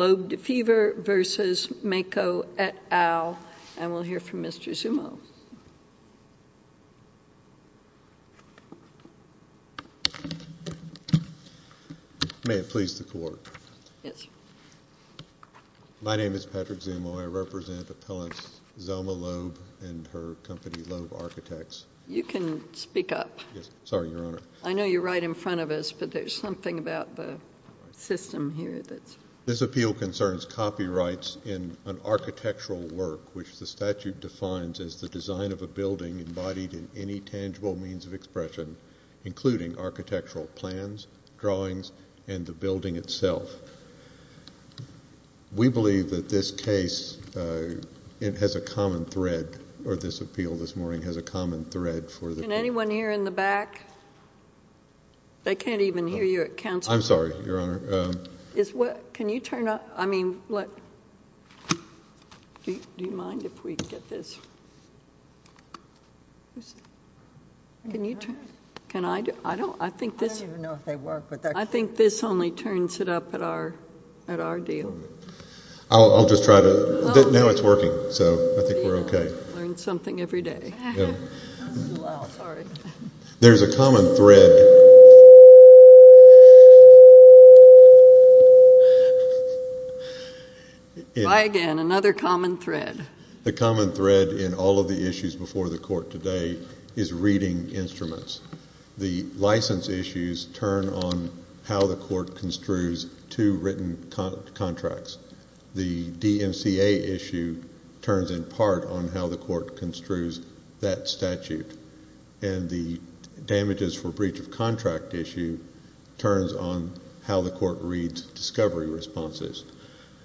at OWL, and we'll hear from Mr. Zumo. May it please the Court. My name is Patrick Zumo. I represent appellants Zelma Loeb and her company, Loeb Architects. You can speak up. Sorry, Your Honor. I know you're right in front of us, but there's something about the system here. This appeal concerns copyrights in an architectural work, which the statute defines as the design of a building embodied in any tangible means of expression, including architectural plans, drawings, and the building itself. We believe that this case has a common thread, or this appeal this morning has a common thread for the… Can anyone hear in the back? They can't even hear you at Council. I'm sorry, Your Honor. Can you turn up… I mean, what… Do you mind if we get this? Can you turn… Can I do… I don't… I think this… I don't even know if they work, but they're… I think this only turns it up at our deal. I'll just try to… Now it's working, so I think we're okay. Learn something every day. Sorry. There's a common thread. Why again? Another common thread. The common thread in all of the issues before the court today is reading instruments. The license issues turn on how the court construes two written contracts. The DMCA issue turns in part on how the court construes that statute, and the damages for the court reads discovery responses.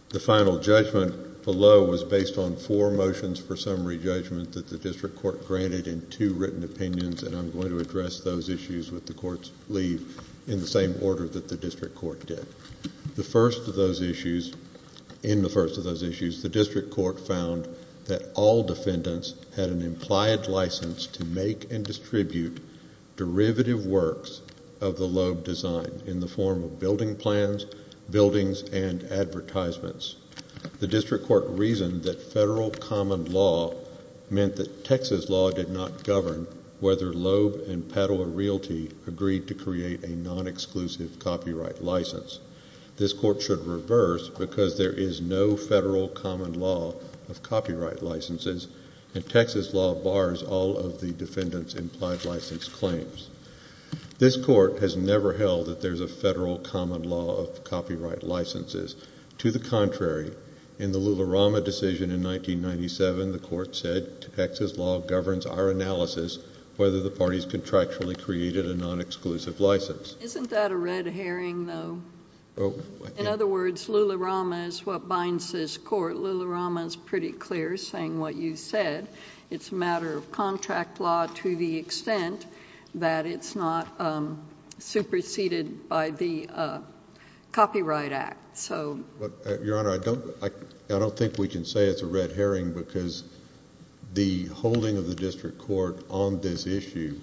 The final judgment below was based on four motions for summary judgment that the district court granted in two written opinions, and I'm going to address those issues with the court's leave in the same order that the district court did. The first of those issues, in the first of those issues, the district court found that all defendants had an implied license to make and distribute derivative works of the Loeb design in the form of building plans, buildings, and advertisements. The district court reasoned that federal common law meant that Texas law did not govern whether Loeb and Padua Realty agreed to create a non-exclusive copyright license. This court should reverse because there is no federal common law of copyright licenses, and Texas law bars all of the defendants' implied license claims. This court has never held that there's a federal common law of copyright licenses. To the contrary, in the Lularama decision in 1997, the court said Texas law governs our analysis whether the parties contractually created a non-exclusive license. Isn't that a red herring, though? In other words, Lularama is what binds this court. Lularama is pretty clear, saying what you said. It's a matter of contract law to the extent that it's not superseded by the Copyright Act. Your Honor, I don't think we can say it's a red herring because the holding of the district court on this issue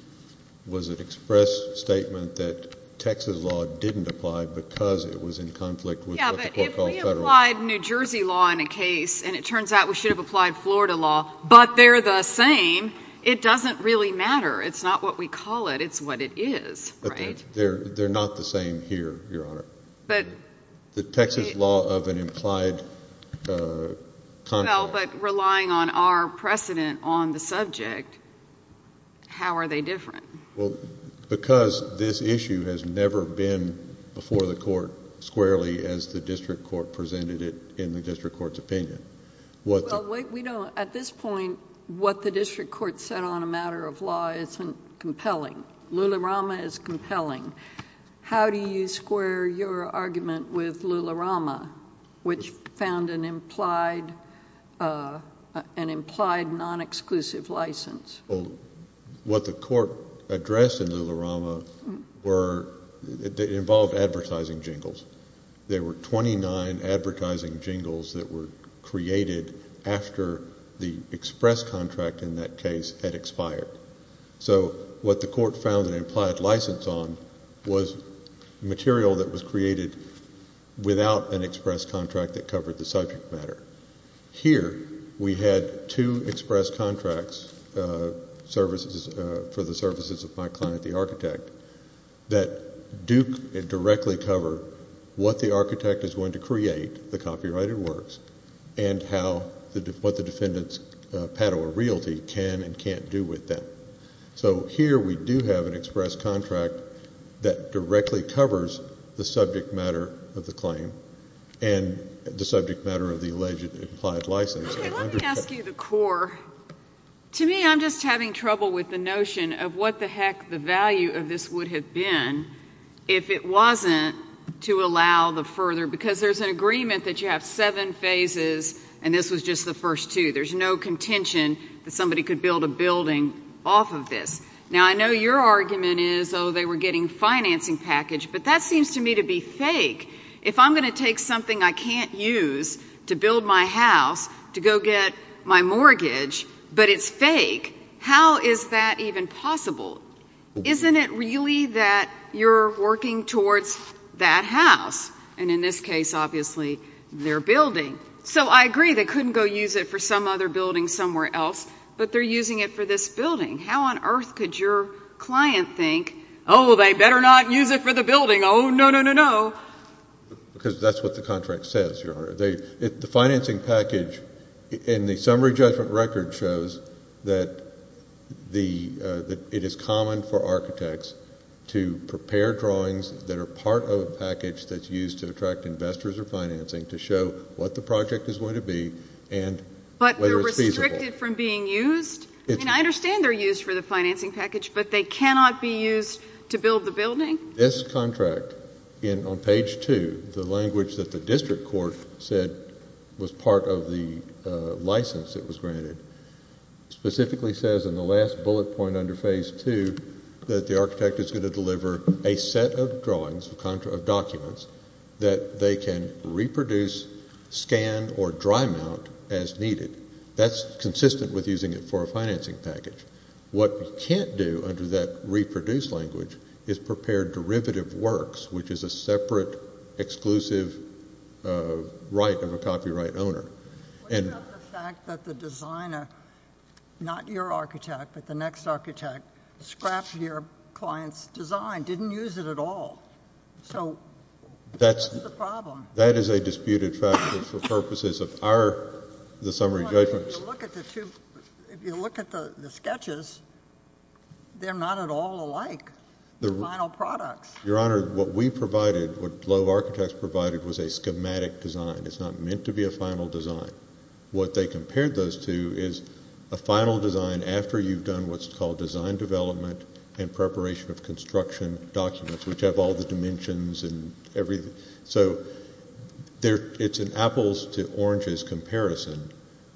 was an express statement that Texas law didn't apply because it was in conflict with what the court called federal. Yeah, but if we applied New Jersey law in a case, and it turns out we should have applied Florida law, but they're the same, it doesn't really matter. It's not what we call it. It's what it is, right? They're not the same here, Your Honor. The Texas law of an implied conflict. Well, but relying on our precedent on the subject, how are they different? Well, because this issue has never been before the court squarely as the district court presented it in the district court's opinion. At this point, what the district court said on a matter of law isn't compelling. Lularama is compelling. How do you square your argument with Lularama, which found an implied non-exclusive license? What the court addressed in Lularama involved advertising jingles. There were 29 advertising jingles that were created after the express contract in that case had expired. So what the court found an implied license on was material that was created without an express contract that covered the subject matter. Here, we had two express contracts for the services of my client, the architect, that do directly cover what the architect is going to create, the copyrighted works, and what the defendant's Padua realty can and can't do with them. So here we do have an express contract that directly covers the subject matter of the claim and the subject matter of the alleged implied license. Let me ask you the core. To me, I'm just having trouble with the notion of what the heck the value of this would have been if it wasn't to allow the further, because there's an agreement that you have seven phases, and this was just the first two. There's no contention that somebody could build a building off of this. Now, I know your argument is, oh, they were getting financing package, but that seems to me to be fake. If I'm going to take something I can't use to build my house to go get my mortgage, but it's fake, how is that even possible? Isn't it really that you're working towards that house? And in this case, obviously, their building. So I agree they couldn't go use it for some other building somewhere else, but they're using it for this building. How on earth could your client think, oh, they better not use it for the building. Oh, no, no, no, no. Because that's what the contract says, Your Honor. The financing package in the summary judgment record shows that it is common for architects to prepare drawings that are part of a package that's used to attract investors or financing to show what the project is going to be and whether it's feasible. But they're restricted from being used? I mean, I understand they're used for the financing package, but they cannot be used to build the building? This contract on page 2, the language that the district court said was part of the license that was granted, specifically says in the last bullet point under phase 2 that the architect is going to deliver a set of drawings, of documents, that they can reproduce, scan, or dry mount as needed. That's consistent with using it for a financing package. What we can't do under that reproduce language is prepare derivative works, which is a separate exclusive right of a copyright owner. What about the fact that the designer, not your architect, but the next architect, scrapped your client's design, didn't use it at all? So what's the problem? That is a disputed factor for purposes of our summary judgments. If you look at the sketches, they're not at all alike, the final products. Your Honor, what we provided, what Lowe Architects provided, was a schematic design. It's not meant to be a final design. What they compared those to is a final design after you've done what's called design development and preparation of construction documents, which have all the dimensions and everything. So it's an apples to oranges comparison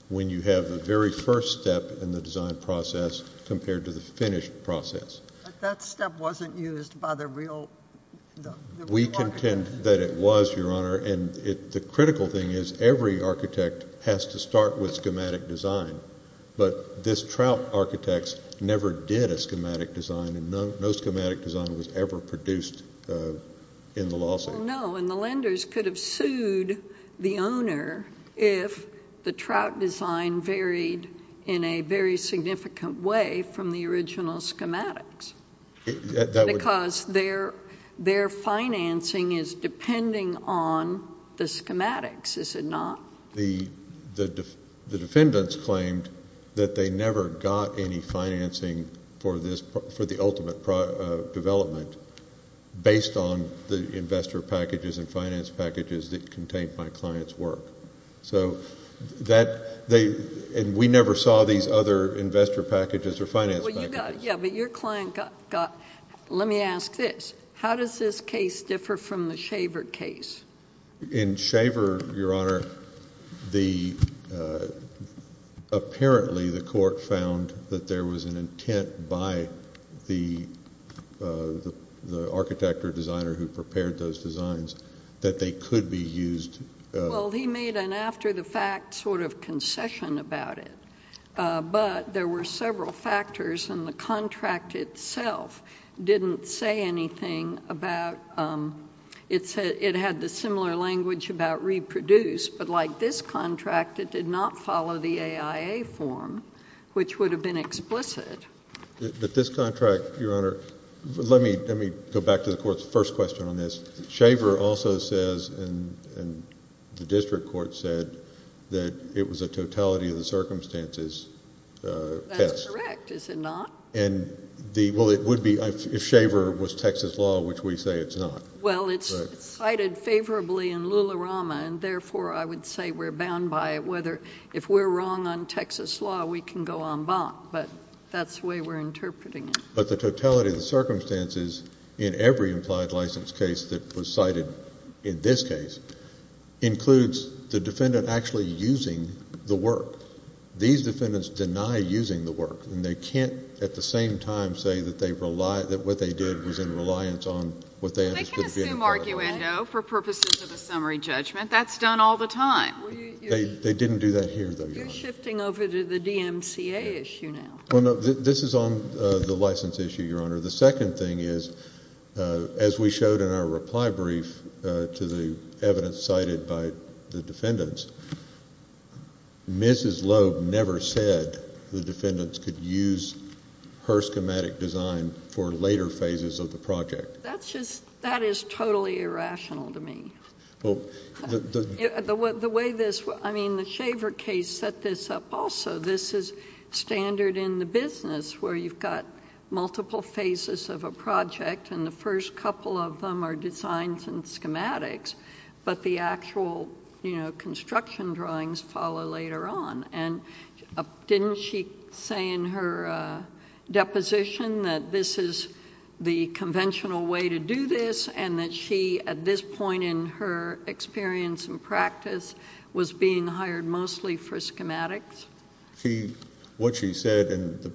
when you have the very first step in the design process compared to the finished process. But that step wasn't used by the real architect? We contend that it was, Your Honor. And the critical thing is every architect has to start with schematic design. But this Trout Architects never did a schematic design, and no schematic design was ever produced in the lawsuit. Well, no, and the lenders could have sued the owner if the trout design varied in a very significant way from the original schematics. Because their financing is depending on the schematics, is it not? The defendants claimed that they never got any financing for the ultimate development based on the investor packages and finance packages that contained my client's work. And we never saw these other investor packages or finance packages. Yeah, but your client got... let me ask this. How does this case differ from the Shaver case? In Shaver, Your Honor, apparently the court found that there was an intent by the architect or designer who prepared those designs that they could be used... Well, he made an after-the-fact sort of concession about it. But there were several factors, and the contract itself didn't say anything about... it had the similar language about reproduce, but like this contract, it did not follow the AIA form, which would have been explicit. But this contract, Your Honor... let me go back to the court's first question on this. Shaver also says, and the district court said, that it was a totality of the circumstances test. That's correct, is it not? Well, it would be if Shaver was Texas law, which we say it's not. Well, it's cited favorably in Lularama, and therefore I would say we're bound by whether if we're wrong on Texas law, we can go en banc. But that's the way we're interpreting it. But the totality of the circumstances in every implied license case that was cited in this case includes the defendant actually using the work. These defendants deny using the work, and they can't at the same time say that what they did was in reliance on what they understood... They can assume arguendo for purposes of a summary judgment. That's done all the time. They didn't do that here, though, Your Honor. You're shifting over to the DMCA issue now. Well, no, this is on the license issue, Your Honor. The second thing is, as we showed in our reply brief to the evidence cited by the defendants, Mrs. Loeb never said the defendants could use her schematic design for later phases of the project. That is totally irrational to me. The way this... I mean, the Shaver case set this up also. This is standard in the business where you've got multiple phases of a project, and the first couple of them are designs and schematics, but the actual construction drawings follow later on. Didn't she say in her deposition that this is the conventional way to do this and that she, at this point in her experience and practice, was being hired mostly for schematics? What she said in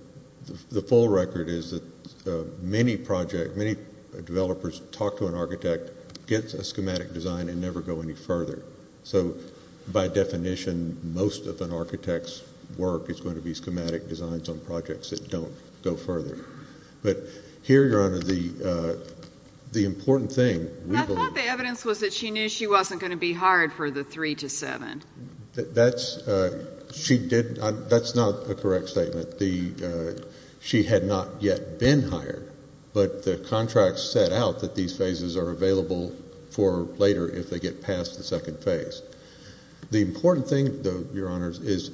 the full record is that many project... many developers talk to an architect, get a schematic design, and never go any further. So by definition, most of an architect's work is going to be schematic designs on projects that don't go further. But here, Your Honor, the important thing... I thought the evidence was that she knew she wasn't going to be hired for the three to seven. That's... she did... that's not a correct statement. The... she had not yet been hired, but the contract set out that these phases are available for later if they get past the second phase. The important thing, though, Your Honors, is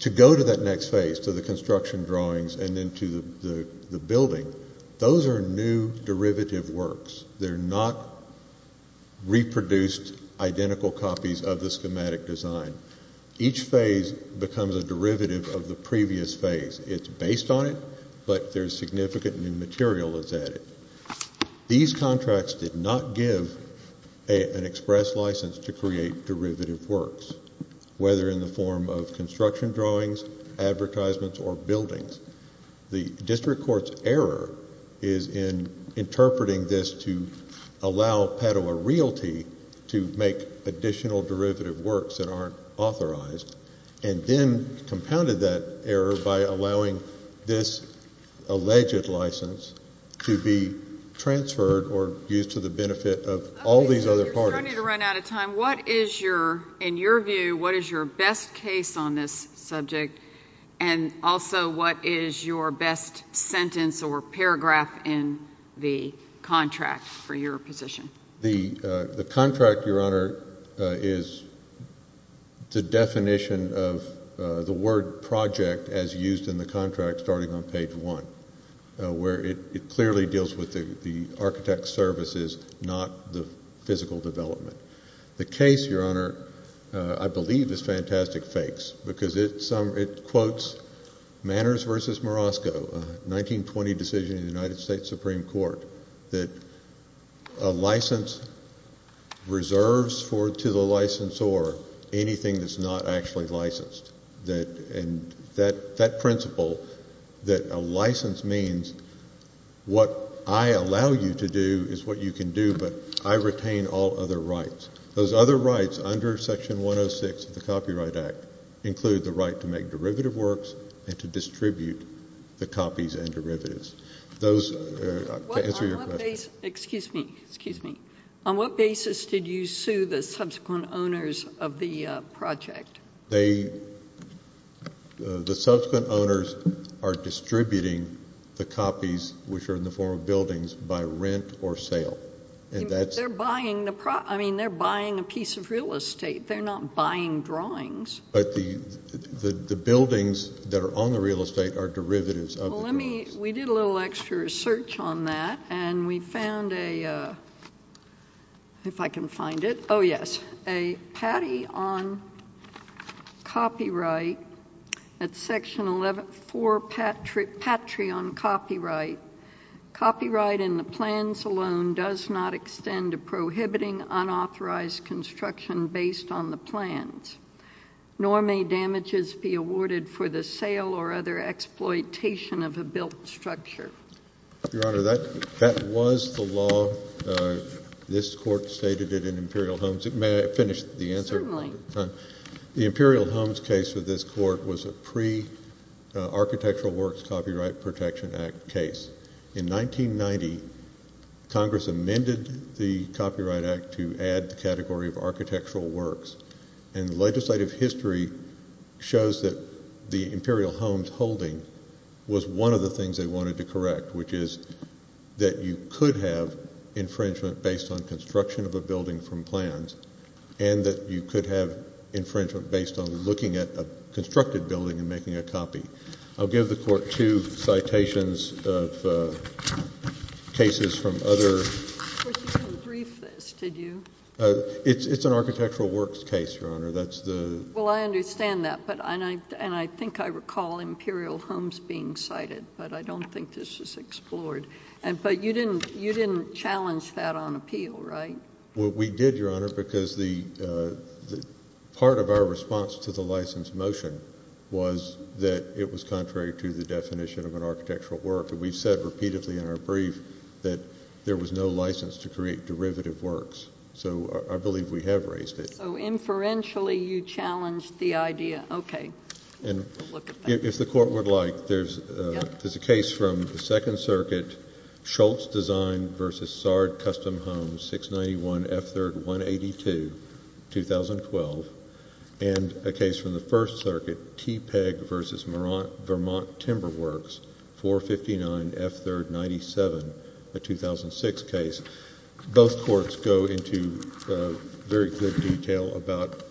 to go to that next phase, to the construction drawings and then to the building. Those are new derivative works. They're not reproduced, identical copies of the schematic design. Each phase becomes a derivative of the previous phase. It's based on it, but there's significant new material that's added. These contracts did not give an express license to create derivative works, whether in the form of construction drawings, advertisements, or buildings. The district court's error is in interpreting this to allow Padua Realty to make additional derivative works that aren't authorized, and then compounded that error by allowing this alleged license to be transferred or used to the benefit of all these other parties. You're starting to run out of time. What is your... in your view, what is your best case on this subject, and also what is your best sentence or paragraph in the contract for your position? The contract, Your Honor, is the definition of the word project as used in the contract starting on page one, where it clearly deals with the architect's services, not the physical development. The case, Your Honor, I believe is fantastic fakes because it quotes Manners v. Morosco, a 1920 decision in the United States Supreme Court, that a license reserves to the licensor anything that's not actually licensed. And that principle, that a license means what I allow you to do is what you can do, but I retain all other rights. Those other rights under Section 106 of the Copyright Act include the right to make derivative works and to distribute the copies and derivatives. To answer your question... On what basis did you sue the subsequent owners of the project? The subsequent owners are distributing the copies, which are in the form of buildings, by rent or sale. They're buying a piece of real estate. They're not buying drawings. But the buildings that are on the real estate are derivatives of the drawings. We did a little extra research on that, and we found a—if I can find it. Oh, yes. With a patty on copyright at Section 11—for patry on copyright, copyright in the plans alone does not extend to prohibiting unauthorized construction based on the plans, nor may damages be awarded for the sale or other exploitation of a built structure. Your Honor, that was the law. This Court stated it in Imperial Homes. May I finish the answer? Certainly. The Imperial Homes case for this Court was a pre-Architectural Works Copyright Protection Act case. In 1990, Congress amended the Copyright Act to add the category of architectural works, and legislative history shows that the Imperial Homes holding was one of the things they wanted to correct, which is that you could have infringement based on construction of a building from plans and that you could have infringement based on looking at a constructed building and making a copy. I'll give the Court two citations of cases from other— You didn't brief this, did you? It's an architectural works case, Your Honor. Well, I understand that, and I think I recall Imperial Homes being cited, but I don't think this was explored. But you didn't challenge that on appeal, right? Well, we did, Your Honor, because part of our response to the license motion was that it was contrary to the definition of an architectural work, and we've said repeatedly in our brief that there was no license to create derivative works. So I believe we have raised it. So inferentially you challenged the idea. Okay. We'll look at that. If the Court would like, there's a case from the Second Circuit, Schultz Design v. Sard Custom Homes, 691 F3rd 182, 2012, and a case from the First Circuit, Tepeg v. Vermont Timber Works, 459 F3rd 97, a 2006 case. Both courts go into very good detail about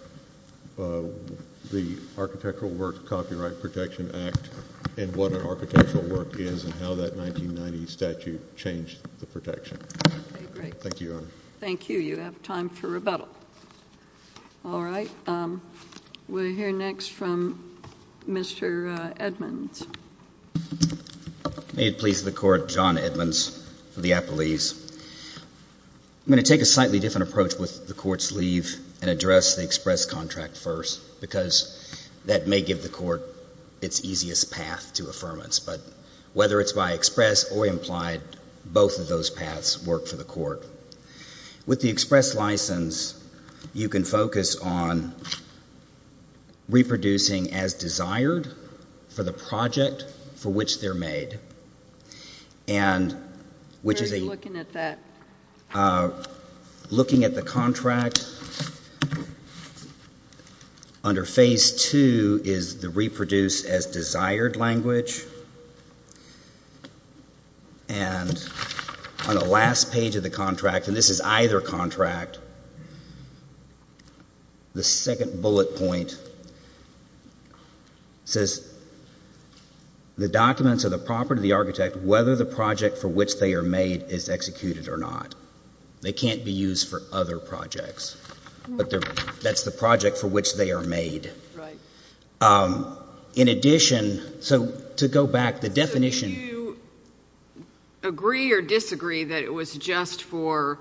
the Architectural Works Copyright Protection Act and what an architectural work is and how that 1990 statute changed the protection. Okay, great. Thank you, Your Honor. Thank you. You have time for rebuttal. All right. We'll hear next from Mr. Edmonds. May it please the Court, John Edmonds for the appellees. I'm going to take a slightly different approach with the Court's leave and address the express contract first because that may give the Court its easiest path to affirmance. But whether it's by express or implied, both of those paths work for the Court. With the express license, you can focus on reproducing as desired for the project for which they're made. Where are you looking at that? Looking at the contract. Under Phase 2 is the reproduce as desired language. And on the last page of the contract, and this is either contract, the second bullet point says the documents of the property of the architect, whether the project for which they are made is executed or not. They can't be used for other projects, but that's the project for which they are made. Right. In addition, so to go back, the definition. Do you agree or disagree that it was just for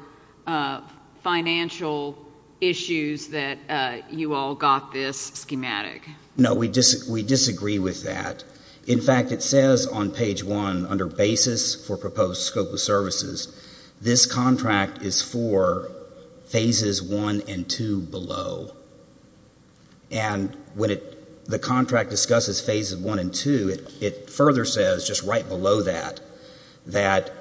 financial issues that you all got this schematic? No, we disagree with that. In fact, it says on page 1, under basis for proposed scope of services, this contract is for Phases 1 and 2 below. And when the contract discusses Phases 1 and 2, it further says, just right below that, that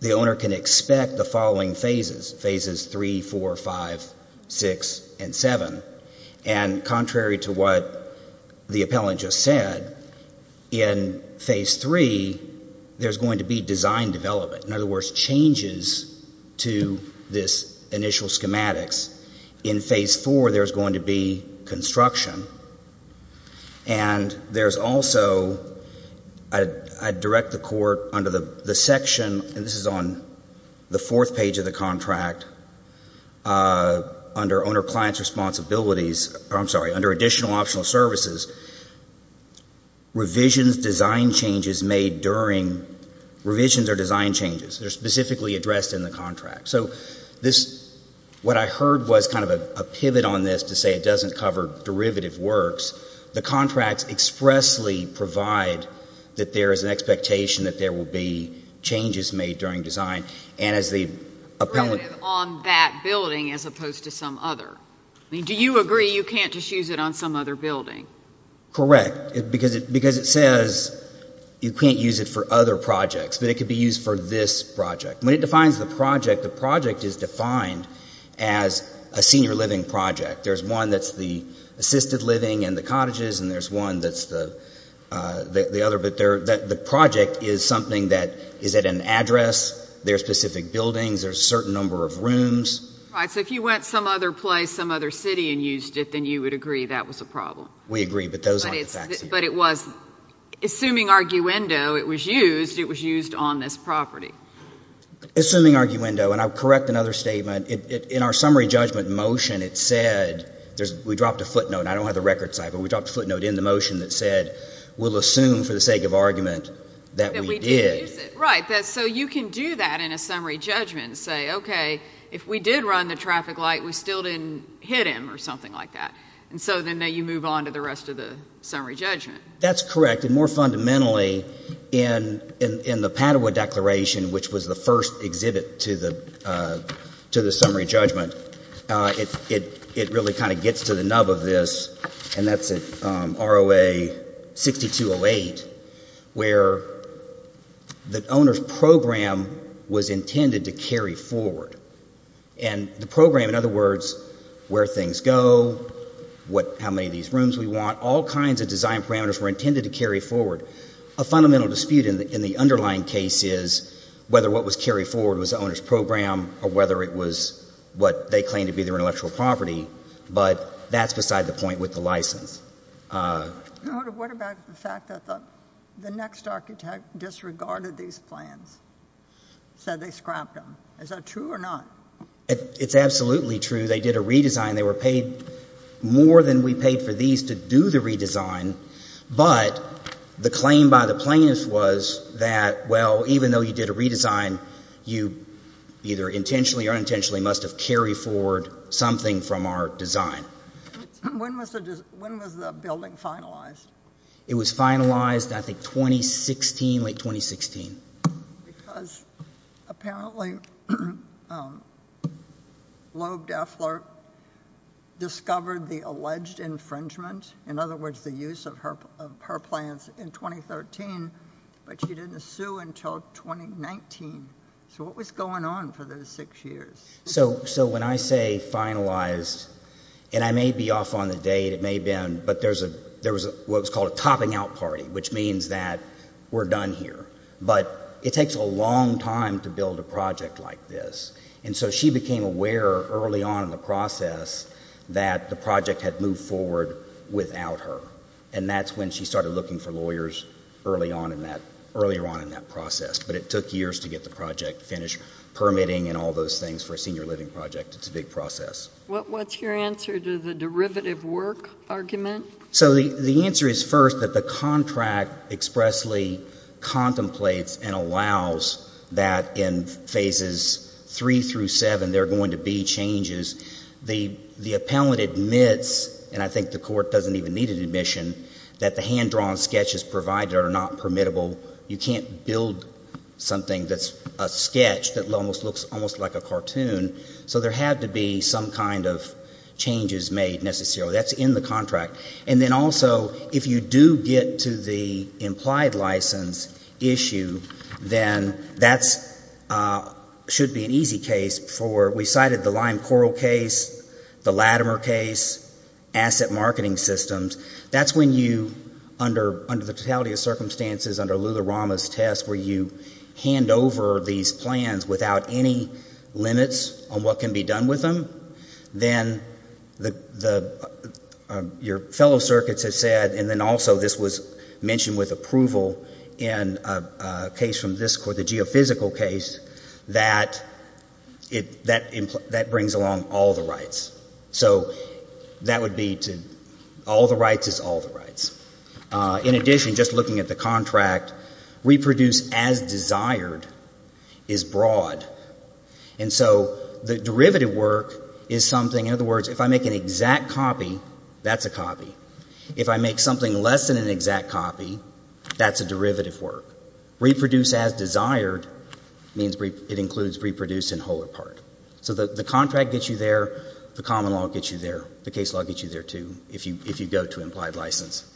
the owner can expect the following phases, Phases 3, 4, 5, 6, and 7. And contrary to what the appellant just said, in Phase 3, there's going to be design development. In other words, changes to this initial schematics. In Phase 4, there's going to be construction. And there's also, I direct the court under the section, and this is on the fourth page of the contract, under Owner-Client Responsibilities, revisions, design changes made during, revisions are design changes. They're specifically addressed in the contract. So this, what I heard was kind of a pivot on this to say it doesn't cover derivative works. The contracts expressly provide that there is an expectation that there will be changes made during design. And as the appellant. On that building as opposed to some other. I mean, do you agree you can't just use it on some other building? Correct. Because it says you can't use it for other projects. But it could be used for this project. When it defines the project, the project is defined as a senior living project. There's one that's the assisted living and the cottages, and there's one that's the other. But the project is something that is at an address. There are specific buildings. There's a certain number of rooms. Right. So if you went some other place, some other city and used it, then you would agree that was a problem. We agree. But those aren't the facts here. But it was, assuming arguendo, it was used, it was used on this property. Assuming arguendo, and I'll correct another statement. In our summary judgment motion, it said, we dropped a footnote. I don't have the record, but we dropped a footnote in the motion that said we'll assume for the sake of argument that we did. That we did use it. Right. So you can do that in a summary judgment and say, okay, if we did run the traffic light, we still didn't hit him or something like that. And so then you move on to the rest of the summary judgment. That's correct. And more fundamentally, in the Padua Declaration, which was the first exhibit to the summary judgment, it really kind of gets to the nub of this, and that's at ROA 6208, where the owner's program was intended to carry forward. And the program, in other words, where things go, how many of these rooms we want, all kinds of design parameters were intended to carry forward. A fundamental dispute in the underlying case is whether what was carried forward was the owner's program or whether it was what they claimed to be their intellectual property. But that's beside the point with the license. What about the fact that the next architect disregarded these plans, said they scrapped them? Is that true or not? It's absolutely true. They did a redesign. They were paid more than we paid for these to do the redesign. But the claim by the plaintiffs was that, well, even though you did a redesign, you either intentionally or unintentionally must have carried forward something from our design. When was the building finalized? It was finalized, I think, 2016, late 2016. Because apparently Loeb Deffler discovered the alleged infringement, in other words, the use of her plans in 2013, but she didn't sue until 2019. So what was going on for those six years? So when I say finalized, and I may be off on the date, it may have been, but there was what was called a topping out party, which means that we're done here. But it takes a long time to build a project like this. And so she became aware early on in the process that the project had moved forward without her. And that's when she started looking for lawyers early on in that process. But it took years to get the project finished, permitting and all those things for a senior living project. It's a big process. What's your answer to the derivative work argument? So the answer is first that the contract expressly contemplates and allows that in phases three through seven there are going to be changes. The appellant admits, and I think the court doesn't even need an admission, that the hand-drawn sketches provided are not permittable. You can't build something that's a sketch that almost looks almost like a cartoon. So there had to be some kind of changes made necessarily. That's in the contract. And then also if you do get to the implied license issue, then that should be an easy case for, we cited the Lyme Coral case, the Latimer case, asset marketing systems. That's when you, under the totality of circumstances, under Lularama's test, where you hand over these plans without any limits on what can be done with them, then your fellow circuits have said, and then also this was mentioned with approval in a case from this court, the geophysical case, that that brings along all the rights. So that would be to all the rights is all the rights. In addition, just looking at the contract, reproduce as desired is broad. And so the derivative work is something, in other words, if I make an exact copy, that's a copy. If I make something less than an exact copy, that's a derivative work. Reproduce as desired means it includes reproduce in whole or part. So the contract gets you there, the common law gets you there, the case law gets you there, too, if you go to implied license.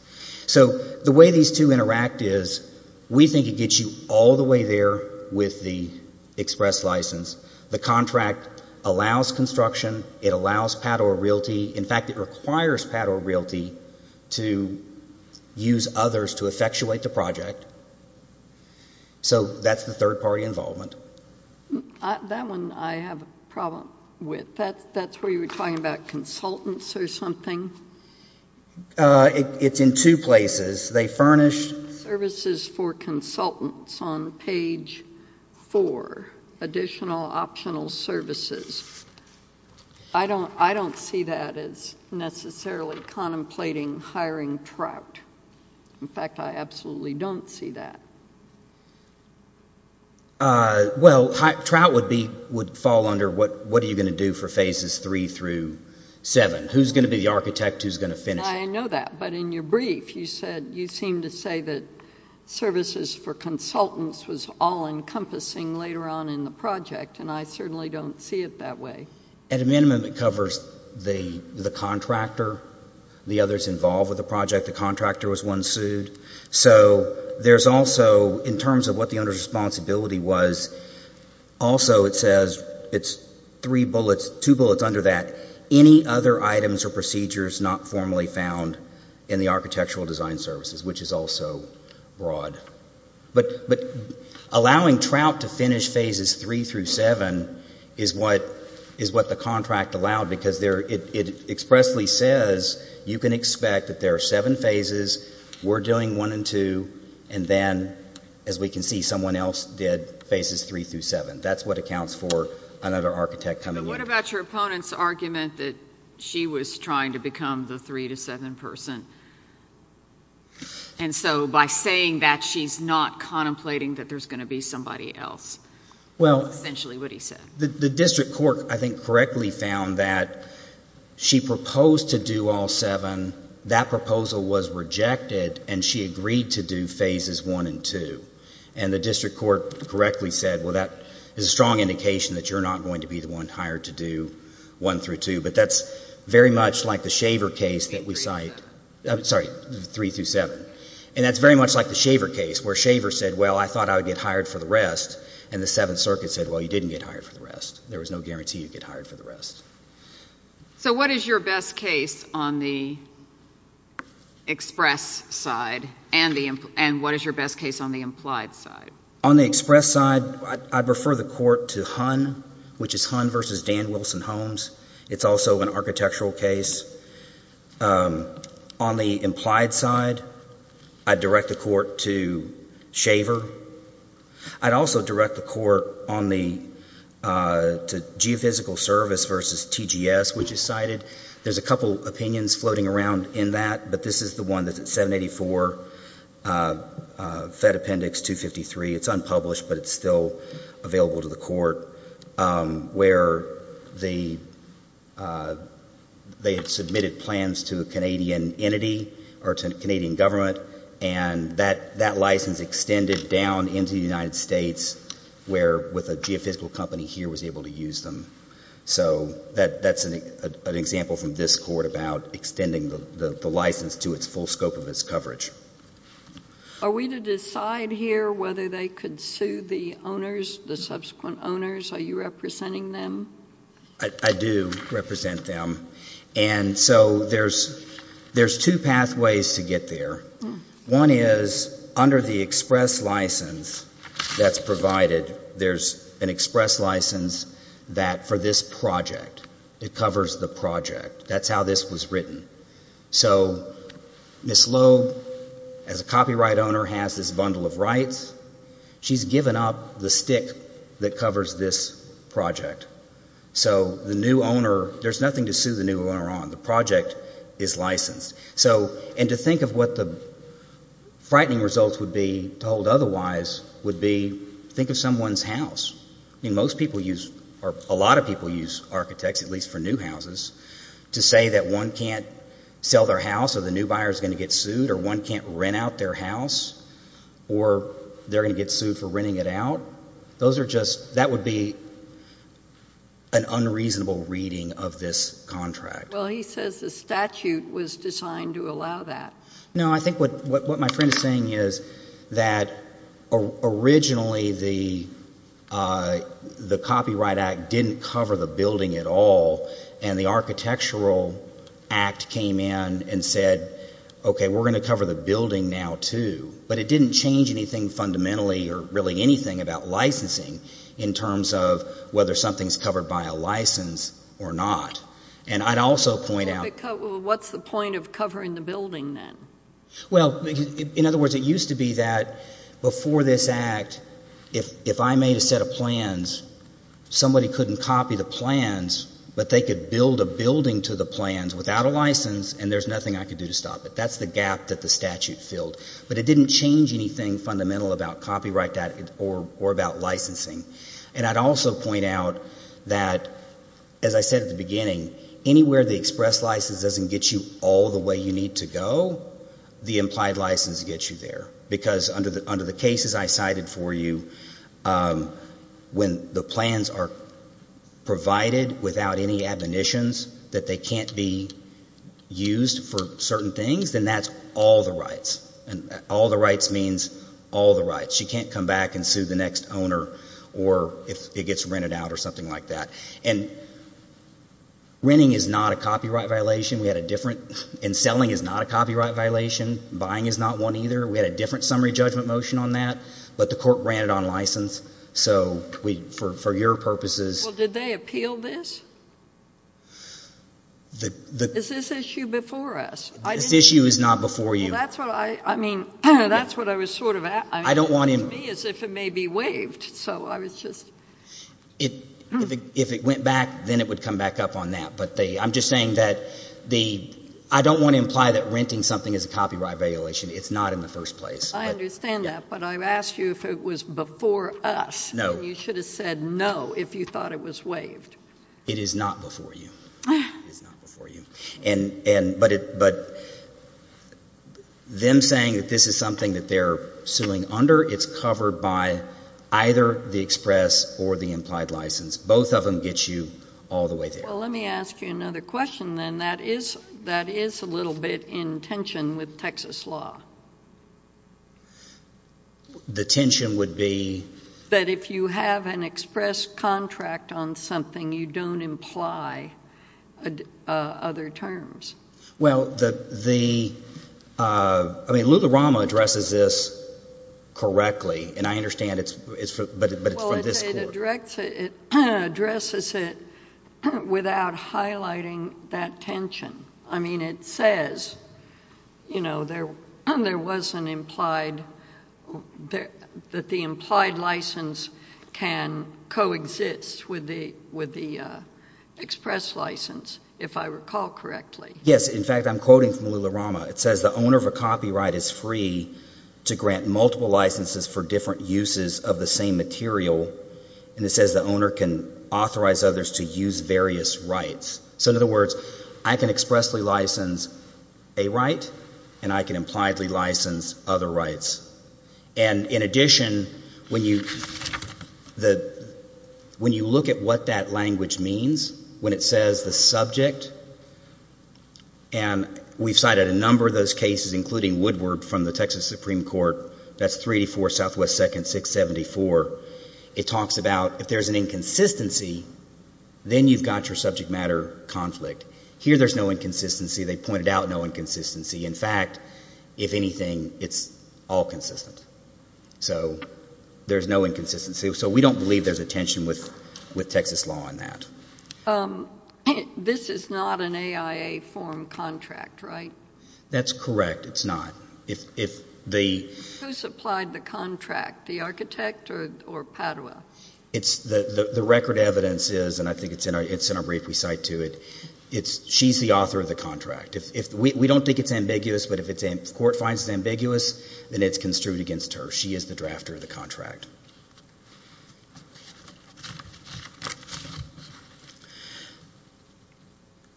So the way these two interact is we think it gets you all the way there with the express license. The contract allows construction. It allows PAD or Realty. In fact, it requires PAD or Realty to use others to effectuate the project. So that's the third-party involvement. That one I have a problem with. That's where you were talking about consultants or something? It's in two places. They furnish services for consultants on page four, additional optional services. I don't see that as necessarily contemplating hiring Trout. In fact, I absolutely don't see that. Well, Trout would fall under what are you going to do for phases three through seven? Who's going to be the architect? Who's going to finish it? I know that, but in your brief you said you seem to say that services for consultants was all encompassing later on in the project, and I certainly don't see it that way. At a minimum, it covers the contractor, the others involved with the project. The contractor was one sued. So there's also, in terms of what the owner's responsibility was, also it says it's three bullets, two bullets under that. Any other items or procedures not formally found in the architectural design services, which is also broad. But allowing Trout to finish phases three through seven is what the contract allowed, because it expressly says you can expect that there are seven phases, we're doing one and two, and then, as we can see, someone else did phases three through seven. And what about your opponent's argument that she was trying to become the three to seven person? And so by saying that, she's not contemplating that there's going to be somebody else, essentially what he said. The district court, I think, correctly found that she proposed to do all seven. That proposal was rejected, and she agreed to do phases one and two. And the district court correctly said, well, that is a strong indication that you're not going to be the one hired to do one through two. But that's very much like the Shaver case that we cite. Sorry, three through seven. And that's very much like the Shaver case, where Shaver said, well, I thought I would get hired for the rest, and the Seventh Circuit said, well, you didn't get hired for the rest. So what is your best case on the express side, and what is your best case on the implied side? On the express side, I'd prefer the court to Hunn, which is Hunn versus Dan Wilson Holmes. It's also an architectural case. On the implied side, I'd direct the court to Shaver. I'd also direct the court to Geophysical Service versus TGS, which is cited. There's a couple opinions floating around in that, but this is the one that's at 784, Fed Appendix 253. It's unpublished, but it's still available to the court, where they had submitted plans to a Canadian entity or to a Canadian government, and that license extended down into the United States, where, with a geophysical company here, was able to use them. So that's an example from this court about extending the license to its full scope of its coverage. Are we to decide here whether they could sue the owners, the subsequent owners? Are you representing them? I do represent them. And so there's two pathways to get there. One is, under the express license that's provided, there's an express license that, for this project, it covers the project. That's how this was written. So Ms. Loeb, as a copyright owner, has this bundle of rights. She's given up the stick that covers this project. So the new owner, there's nothing to sue the new owner on. The project is licensed. And to think of what the frightening results would be, told otherwise, would be, think of someone's house. I mean, most people use, or a lot of people use architects, at least for new houses, to say that one can't sell their house or the new buyer's going to get sued or one can't rent out their house or they're going to get sued for renting it out. Those are just, that would be an unreasonable reading of this contract. Well, he says the statute was designed to allow that. No, I think what my friend is saying is that originally the Copyright Act didn't cover the building at all, and the Architectural Act came in and said, okay, we're going to cover the building now, too. But it didn't change anything fundamentally or really anything about licensing in terms of whether something's covered by a license or not. And I'd also point out — Well, what's the point of covering the building then? Well, in other words, it used to be that before this Act, if I made a set of plans, somebody couldn't copy the plans, but they could build a building to the plans without a license, and there's nothing I could do to stop it. That's the gap that the statute filled. But it didn't change anything fundamental about copyright or about licensing. And I'd also point out that, as I said at the beginning, anywhere the express license doesn't get you all the way you need to go, the implied license gets you there, because under the cases I cited for you, when the plans are provided without any admonitions that they can't be used for certain things, then that's all the rights. And all the rights means all the rights. You can't come back and sue the next owner or if it gets rented out or something like that. And renting is not a copyright violation. We had a different — and selling is not a copyright violation. Buying is not one either. We had a different summary judgment motion on that, but the court ran it on license. So for your purposes — Well, did they appeal this? Is this issue before us? This issue is not before you. Well, that's what I — I mean, that's what I was sort of — I don't want to — To me, it's as if it may be waived. So I was just — If it went back, then it would come back up on that. But I'm just saying that the — I don't want to imply that renting something is a copyright violation. It's not in the first place. I understand that. But I asked you if it was before us. No. And you should have said no if you thought it was waived. It is not before you. It is not before you. And — but them saying that this is something that they're suing under, it's covered by either the express or the implied license. Both of them get you all the way there. Well, let me ask you another question, then. That is a little bit in tension with Texas law. The tension would be — that if you have an express contract on something, you don't imply other terms. Well, the — I mean, Lula-Rama addresses this correctly, and I understand it's — but it's from this court. Well, it addresses it without highlighting that tension. I mean, it says, you know, there was an implied — that the implied license can coexist with the express license, if I recall correctly. Yes. In fact, I'm quoting from Lula-Rama. It says the owner of a copyright is free to grant multiple licenses for different uses of the same material. And it says the owner can authorize others to use various rights. So in other words, I can expressly license a right, and I can impliedly license other rights. And in addition, when you — when you look at what that language means, when it says the subject, and we've cited a number of those cases, including Woodward from the Texas Supreme Court, that's 384 Southwest 2nd 674. It talks about if there's an inconsistency, then you've got your subject matter conflict. Here there's no inconsistency. They pointed out no inconsistency. In fact, if anything, it's all consistent. So there's no inconsistency. So we don't believe there's a tension with Texas law on that. This is not an AIA form contract, right? That's correct. It's not. Who supplied the contract, the architect or Padua? The record evidence is, and I think it's in our brief we cite to it, she's the author of the contract. We don't think it's ambiguous, but if the court finds it ambiguous, then it's construed against her.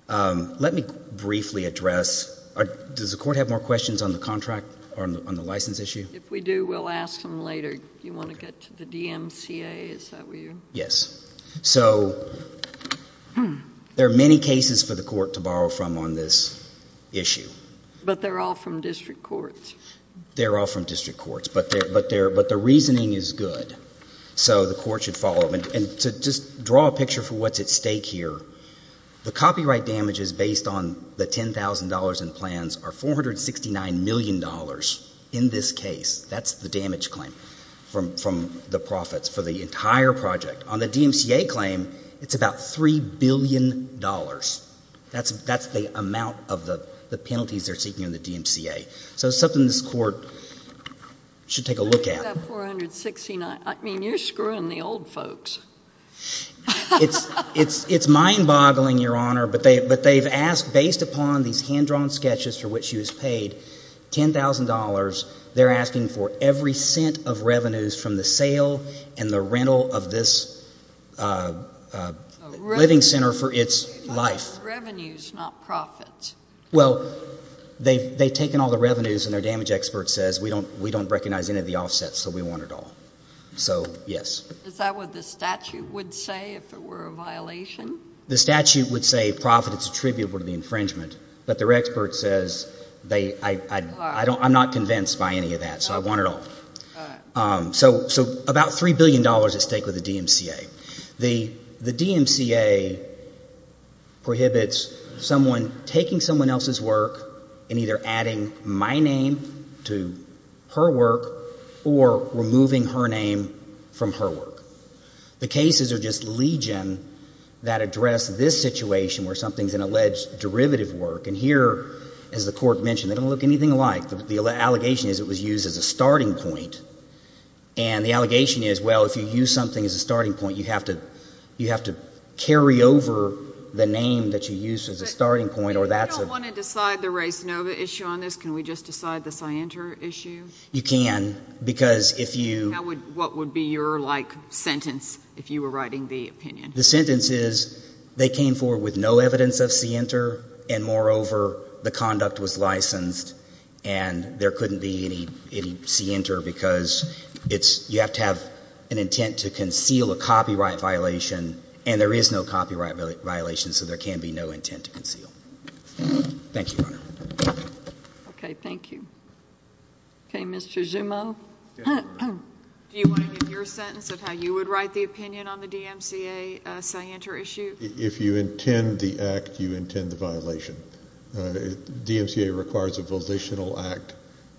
Let me briefly address — does the court have more questions on the contract or on the license issue? If we do, we'll ask them later. Do you want to get to the DMCA? Yes. So there are many cases for the court to borrow from on this issue. But they're all from district courts. They're all from district courts. But the reasoning is good. So the court should follow. And to just draw a picture for what's at stake here, the copyright damages based on the $10,000 in plans are $469 million in this case. That's the damage claim from the profits for the entire project. On the DMCA claim, it's about $3 billion. That's the amount of the penalties they're seeking in the DMCA. So it's something this court should take a look at. What is that $469? I mean, you're screwing the old folks. It's mind-boggling, Your Honor, but they've asked, based upon these hand-drawn sketches for which she was paid, $10,000. They're asking for every cent of revenues from the sale and the rental of this living center for its life. Revenues, not profits. Well, they've taken all the revenues, and their damage expert says we don't recognize any of the offsets, so we want it all. So, yes. Is that what the statute would say if it were a violation? The statute would say profits attributable to the infringement, but their expert says I'm not convinced by any of that, so I want it all. All right. So about $3 billion at stake with the DMCA. The DMCA prohibits someone taking someone else's work and either adding my name to her work or removing her name from her work. The cases are just legion that address this situation where something is an alleged derivative work, and here, as the court mentioned, they don't look anything alike. The allegation is it was used as a starting point, and the allegation is, well, if you use something as a starting point, you have to carry over the name that you used as a starting point, or that's a- If we don't want to decide the Ray Sanova issue on this, can we just decide the Sienter issue? You can, because if you- What would be your, like, sentence if you were writing the opinion? The sentence is they came forward with no evidence of Sienter, and moreover, the conduct was licensed, and there couldn't be any Sienter because it's, you have to have an intent to conceal a copyright violation, and there is no copyright violation, so there can be no intent to conceal. Thank you, Your Honor. Okay, thank you. Okay, Mr. Jumeau. Do you want to give your sentence of how you would write the opinion on the DMCA Sienter issue? If you intend the act, you intend the violation. DMCA requires a volitional act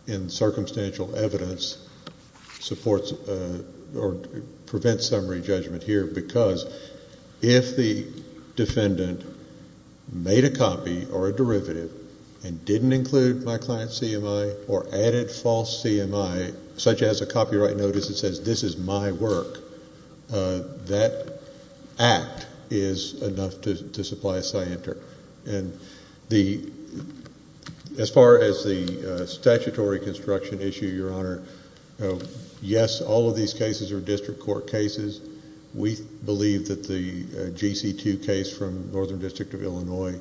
in circumstantial evidence supports or prevents summary judgment here because if the defendant made a copy or a derivative and didn't include my client's CMI or added false CMI, such as a copyright notice that says this is my work, that act is enough to supply a Sienter. As far as the statutory construction issue, Your Honor, yes, all of these cases are district court cases. We believe that the GC2 case from Northern District of Illinois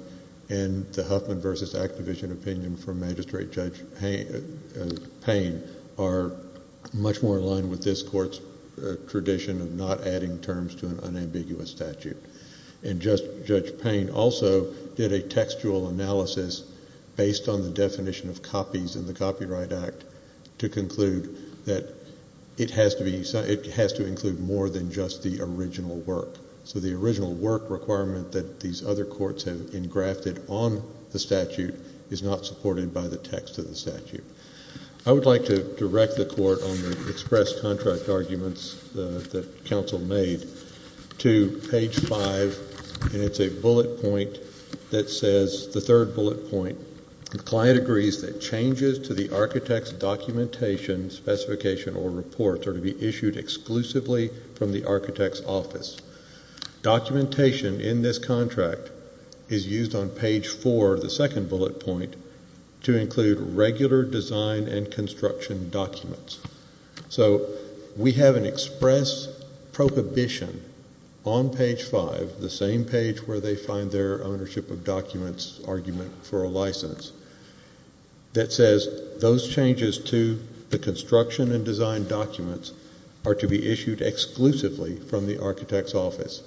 and the Huffman v. Activision opinion from Magistrate Judge Payne are much more in line with this court's tradition of not adding terms to an unambiguous statute. And Judge Payne also did a textual analysis based on the definition of copies in the Copyright Act to conclude that it has to include more than just the original work. So the original work requirement that these other courts have engrafted on the statute is not supported by the text of the statute. I would like to direct the court on the express contract arguments that counsel made to page 5, and it's a bullet point that says, the third bullet point, the client agrees that changes to the architect's documentation, specification, or report are to be issued exclusively from the architect's office. Documentation in this contract is used on page 4, the second bullet point, to include regular design and construction documents. So we have an express prohibition on page 5, the same page where they find their ownership of documents argument for a license, that says, those changes to the construction and design documents are to be issued exclusively from the architect's office.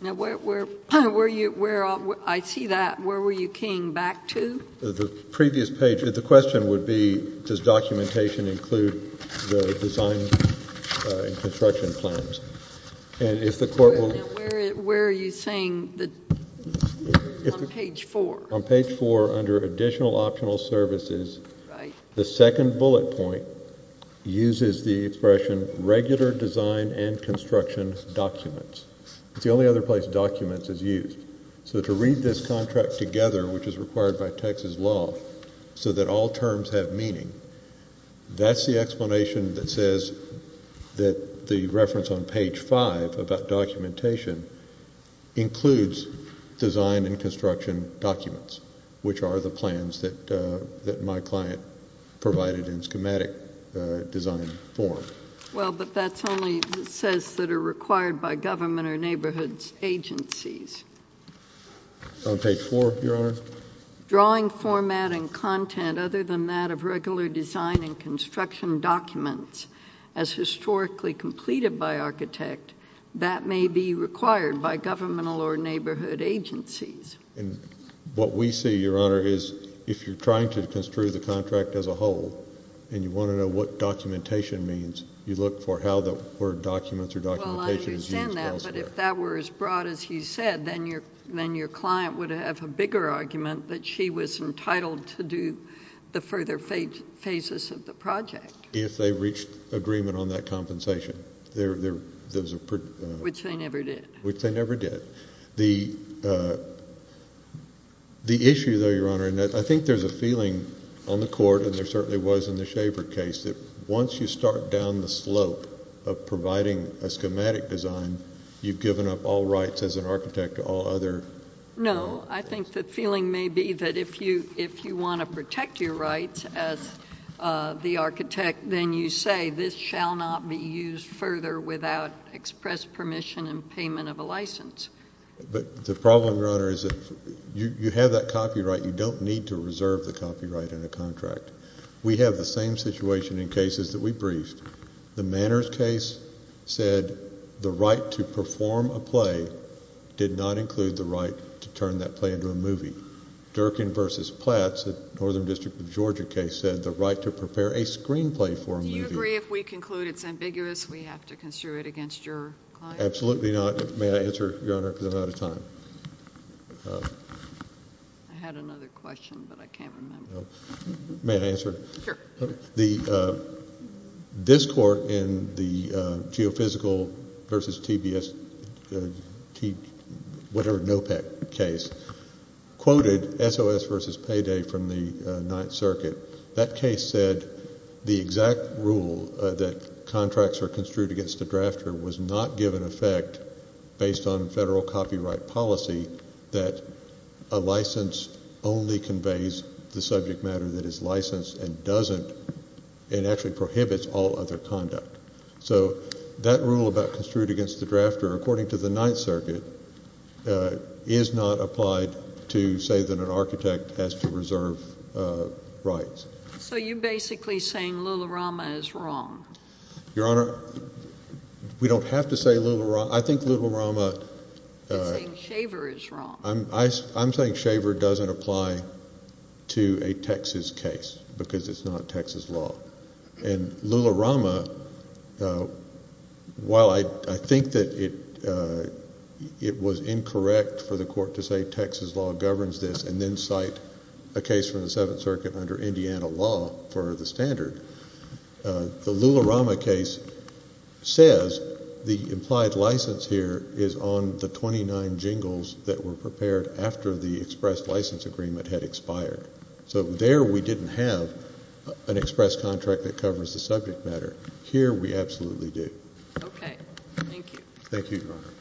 Now, where were you, I see that, where were you keying back to? The previous page, the question would be, does documentation include the design and construction plans? Now, where are you saying, on page 4? On page 4, under additional optional services, the second bullet point uses the expression, regular design and construction documents. It's the only other place documents is used. So to read this contract together, which is required by Texas law, so that all terms have meaning, that's the explanation that says that the reference on page 5 about documentation includes design and construction documents, which are the plans that my client provided in schematic design form. Well, but that's only, it says that are required by government or neighborhood agencies. On page 4, Your Honor? Drawing format and content other than that of regular design and construction documents, as historically completed by architect, that may be required by governmental or neighborhood agencies. And what we see, Your Honor, is if you're trying to construe the contract as a whole, and you want to know what documentation means, you look for how the word documents or documentation is used elsewhere. But if that were as broad as he said, then your client would have a bigger argument that she was entitled to do the further phases of the project. If they reached agreement on that compensation. Which they never did. Which they never did. The issue, though, Your Honor, and I think there's a feeling on the Court, and there certainly was in the Shaver case, that once you start down the slope of providing a schematic design, you've given up all rights as an architect to all other. No, I think the feeling may be that if you want to protect your rights as the architect, then you say this shall not be used further without express permission and payment of a license. But the problem, Your Honor, is if you have that copyright, you don't need to reserve the copyright in a contract. We have the same situation in cases that we briefed. The Manners case said the right to perform a play did not include the right to turn that play into a movie. Durkin v. Platts, the Northern District of Georgia case, said the right to prepare a screenplay for a movie. Do you agree if we conclude it's ambiguous, we have to construe it against your client? Absolutely not. May I answer, Your Honor, because I'm out of time? I had another question, but I can't remember. May I answer? Sure. This Court in the Geophysical v. TBS, whatever, NOPEC case quoted SOS v. Payday from the Ninth Circuit. That case said the exact rule that contracts are construed against the drafter was not given effect based on federal copyright policy that a license only conveys the subject matter that is licensed and doesn't and actually prohibits all other conduct. So that rule about construed against the drafter according to the Ninth Circuit is not applied to say that an architect has to reserve rights. So you're basically saying Lularama is wrong? Your Honor, we don't have to say Lularama. I think Lularama— You're saying Shaver is wrong. I'm saying Shaver doesn't apply to a Texas case because it's not Texas law. And Lularama, while I think that it was incorrect for the Court to say Texas law governs this and then cite a case from the Seventh Circuit under Indiana law for the standard, the Lularama case says the implied license here is on the 29 jingles that were prepared after the express license agreement had expired. So there we didn't have an express contract that covers the subject matter. Here we absolutely do. Okay. Thank you, Your Honor.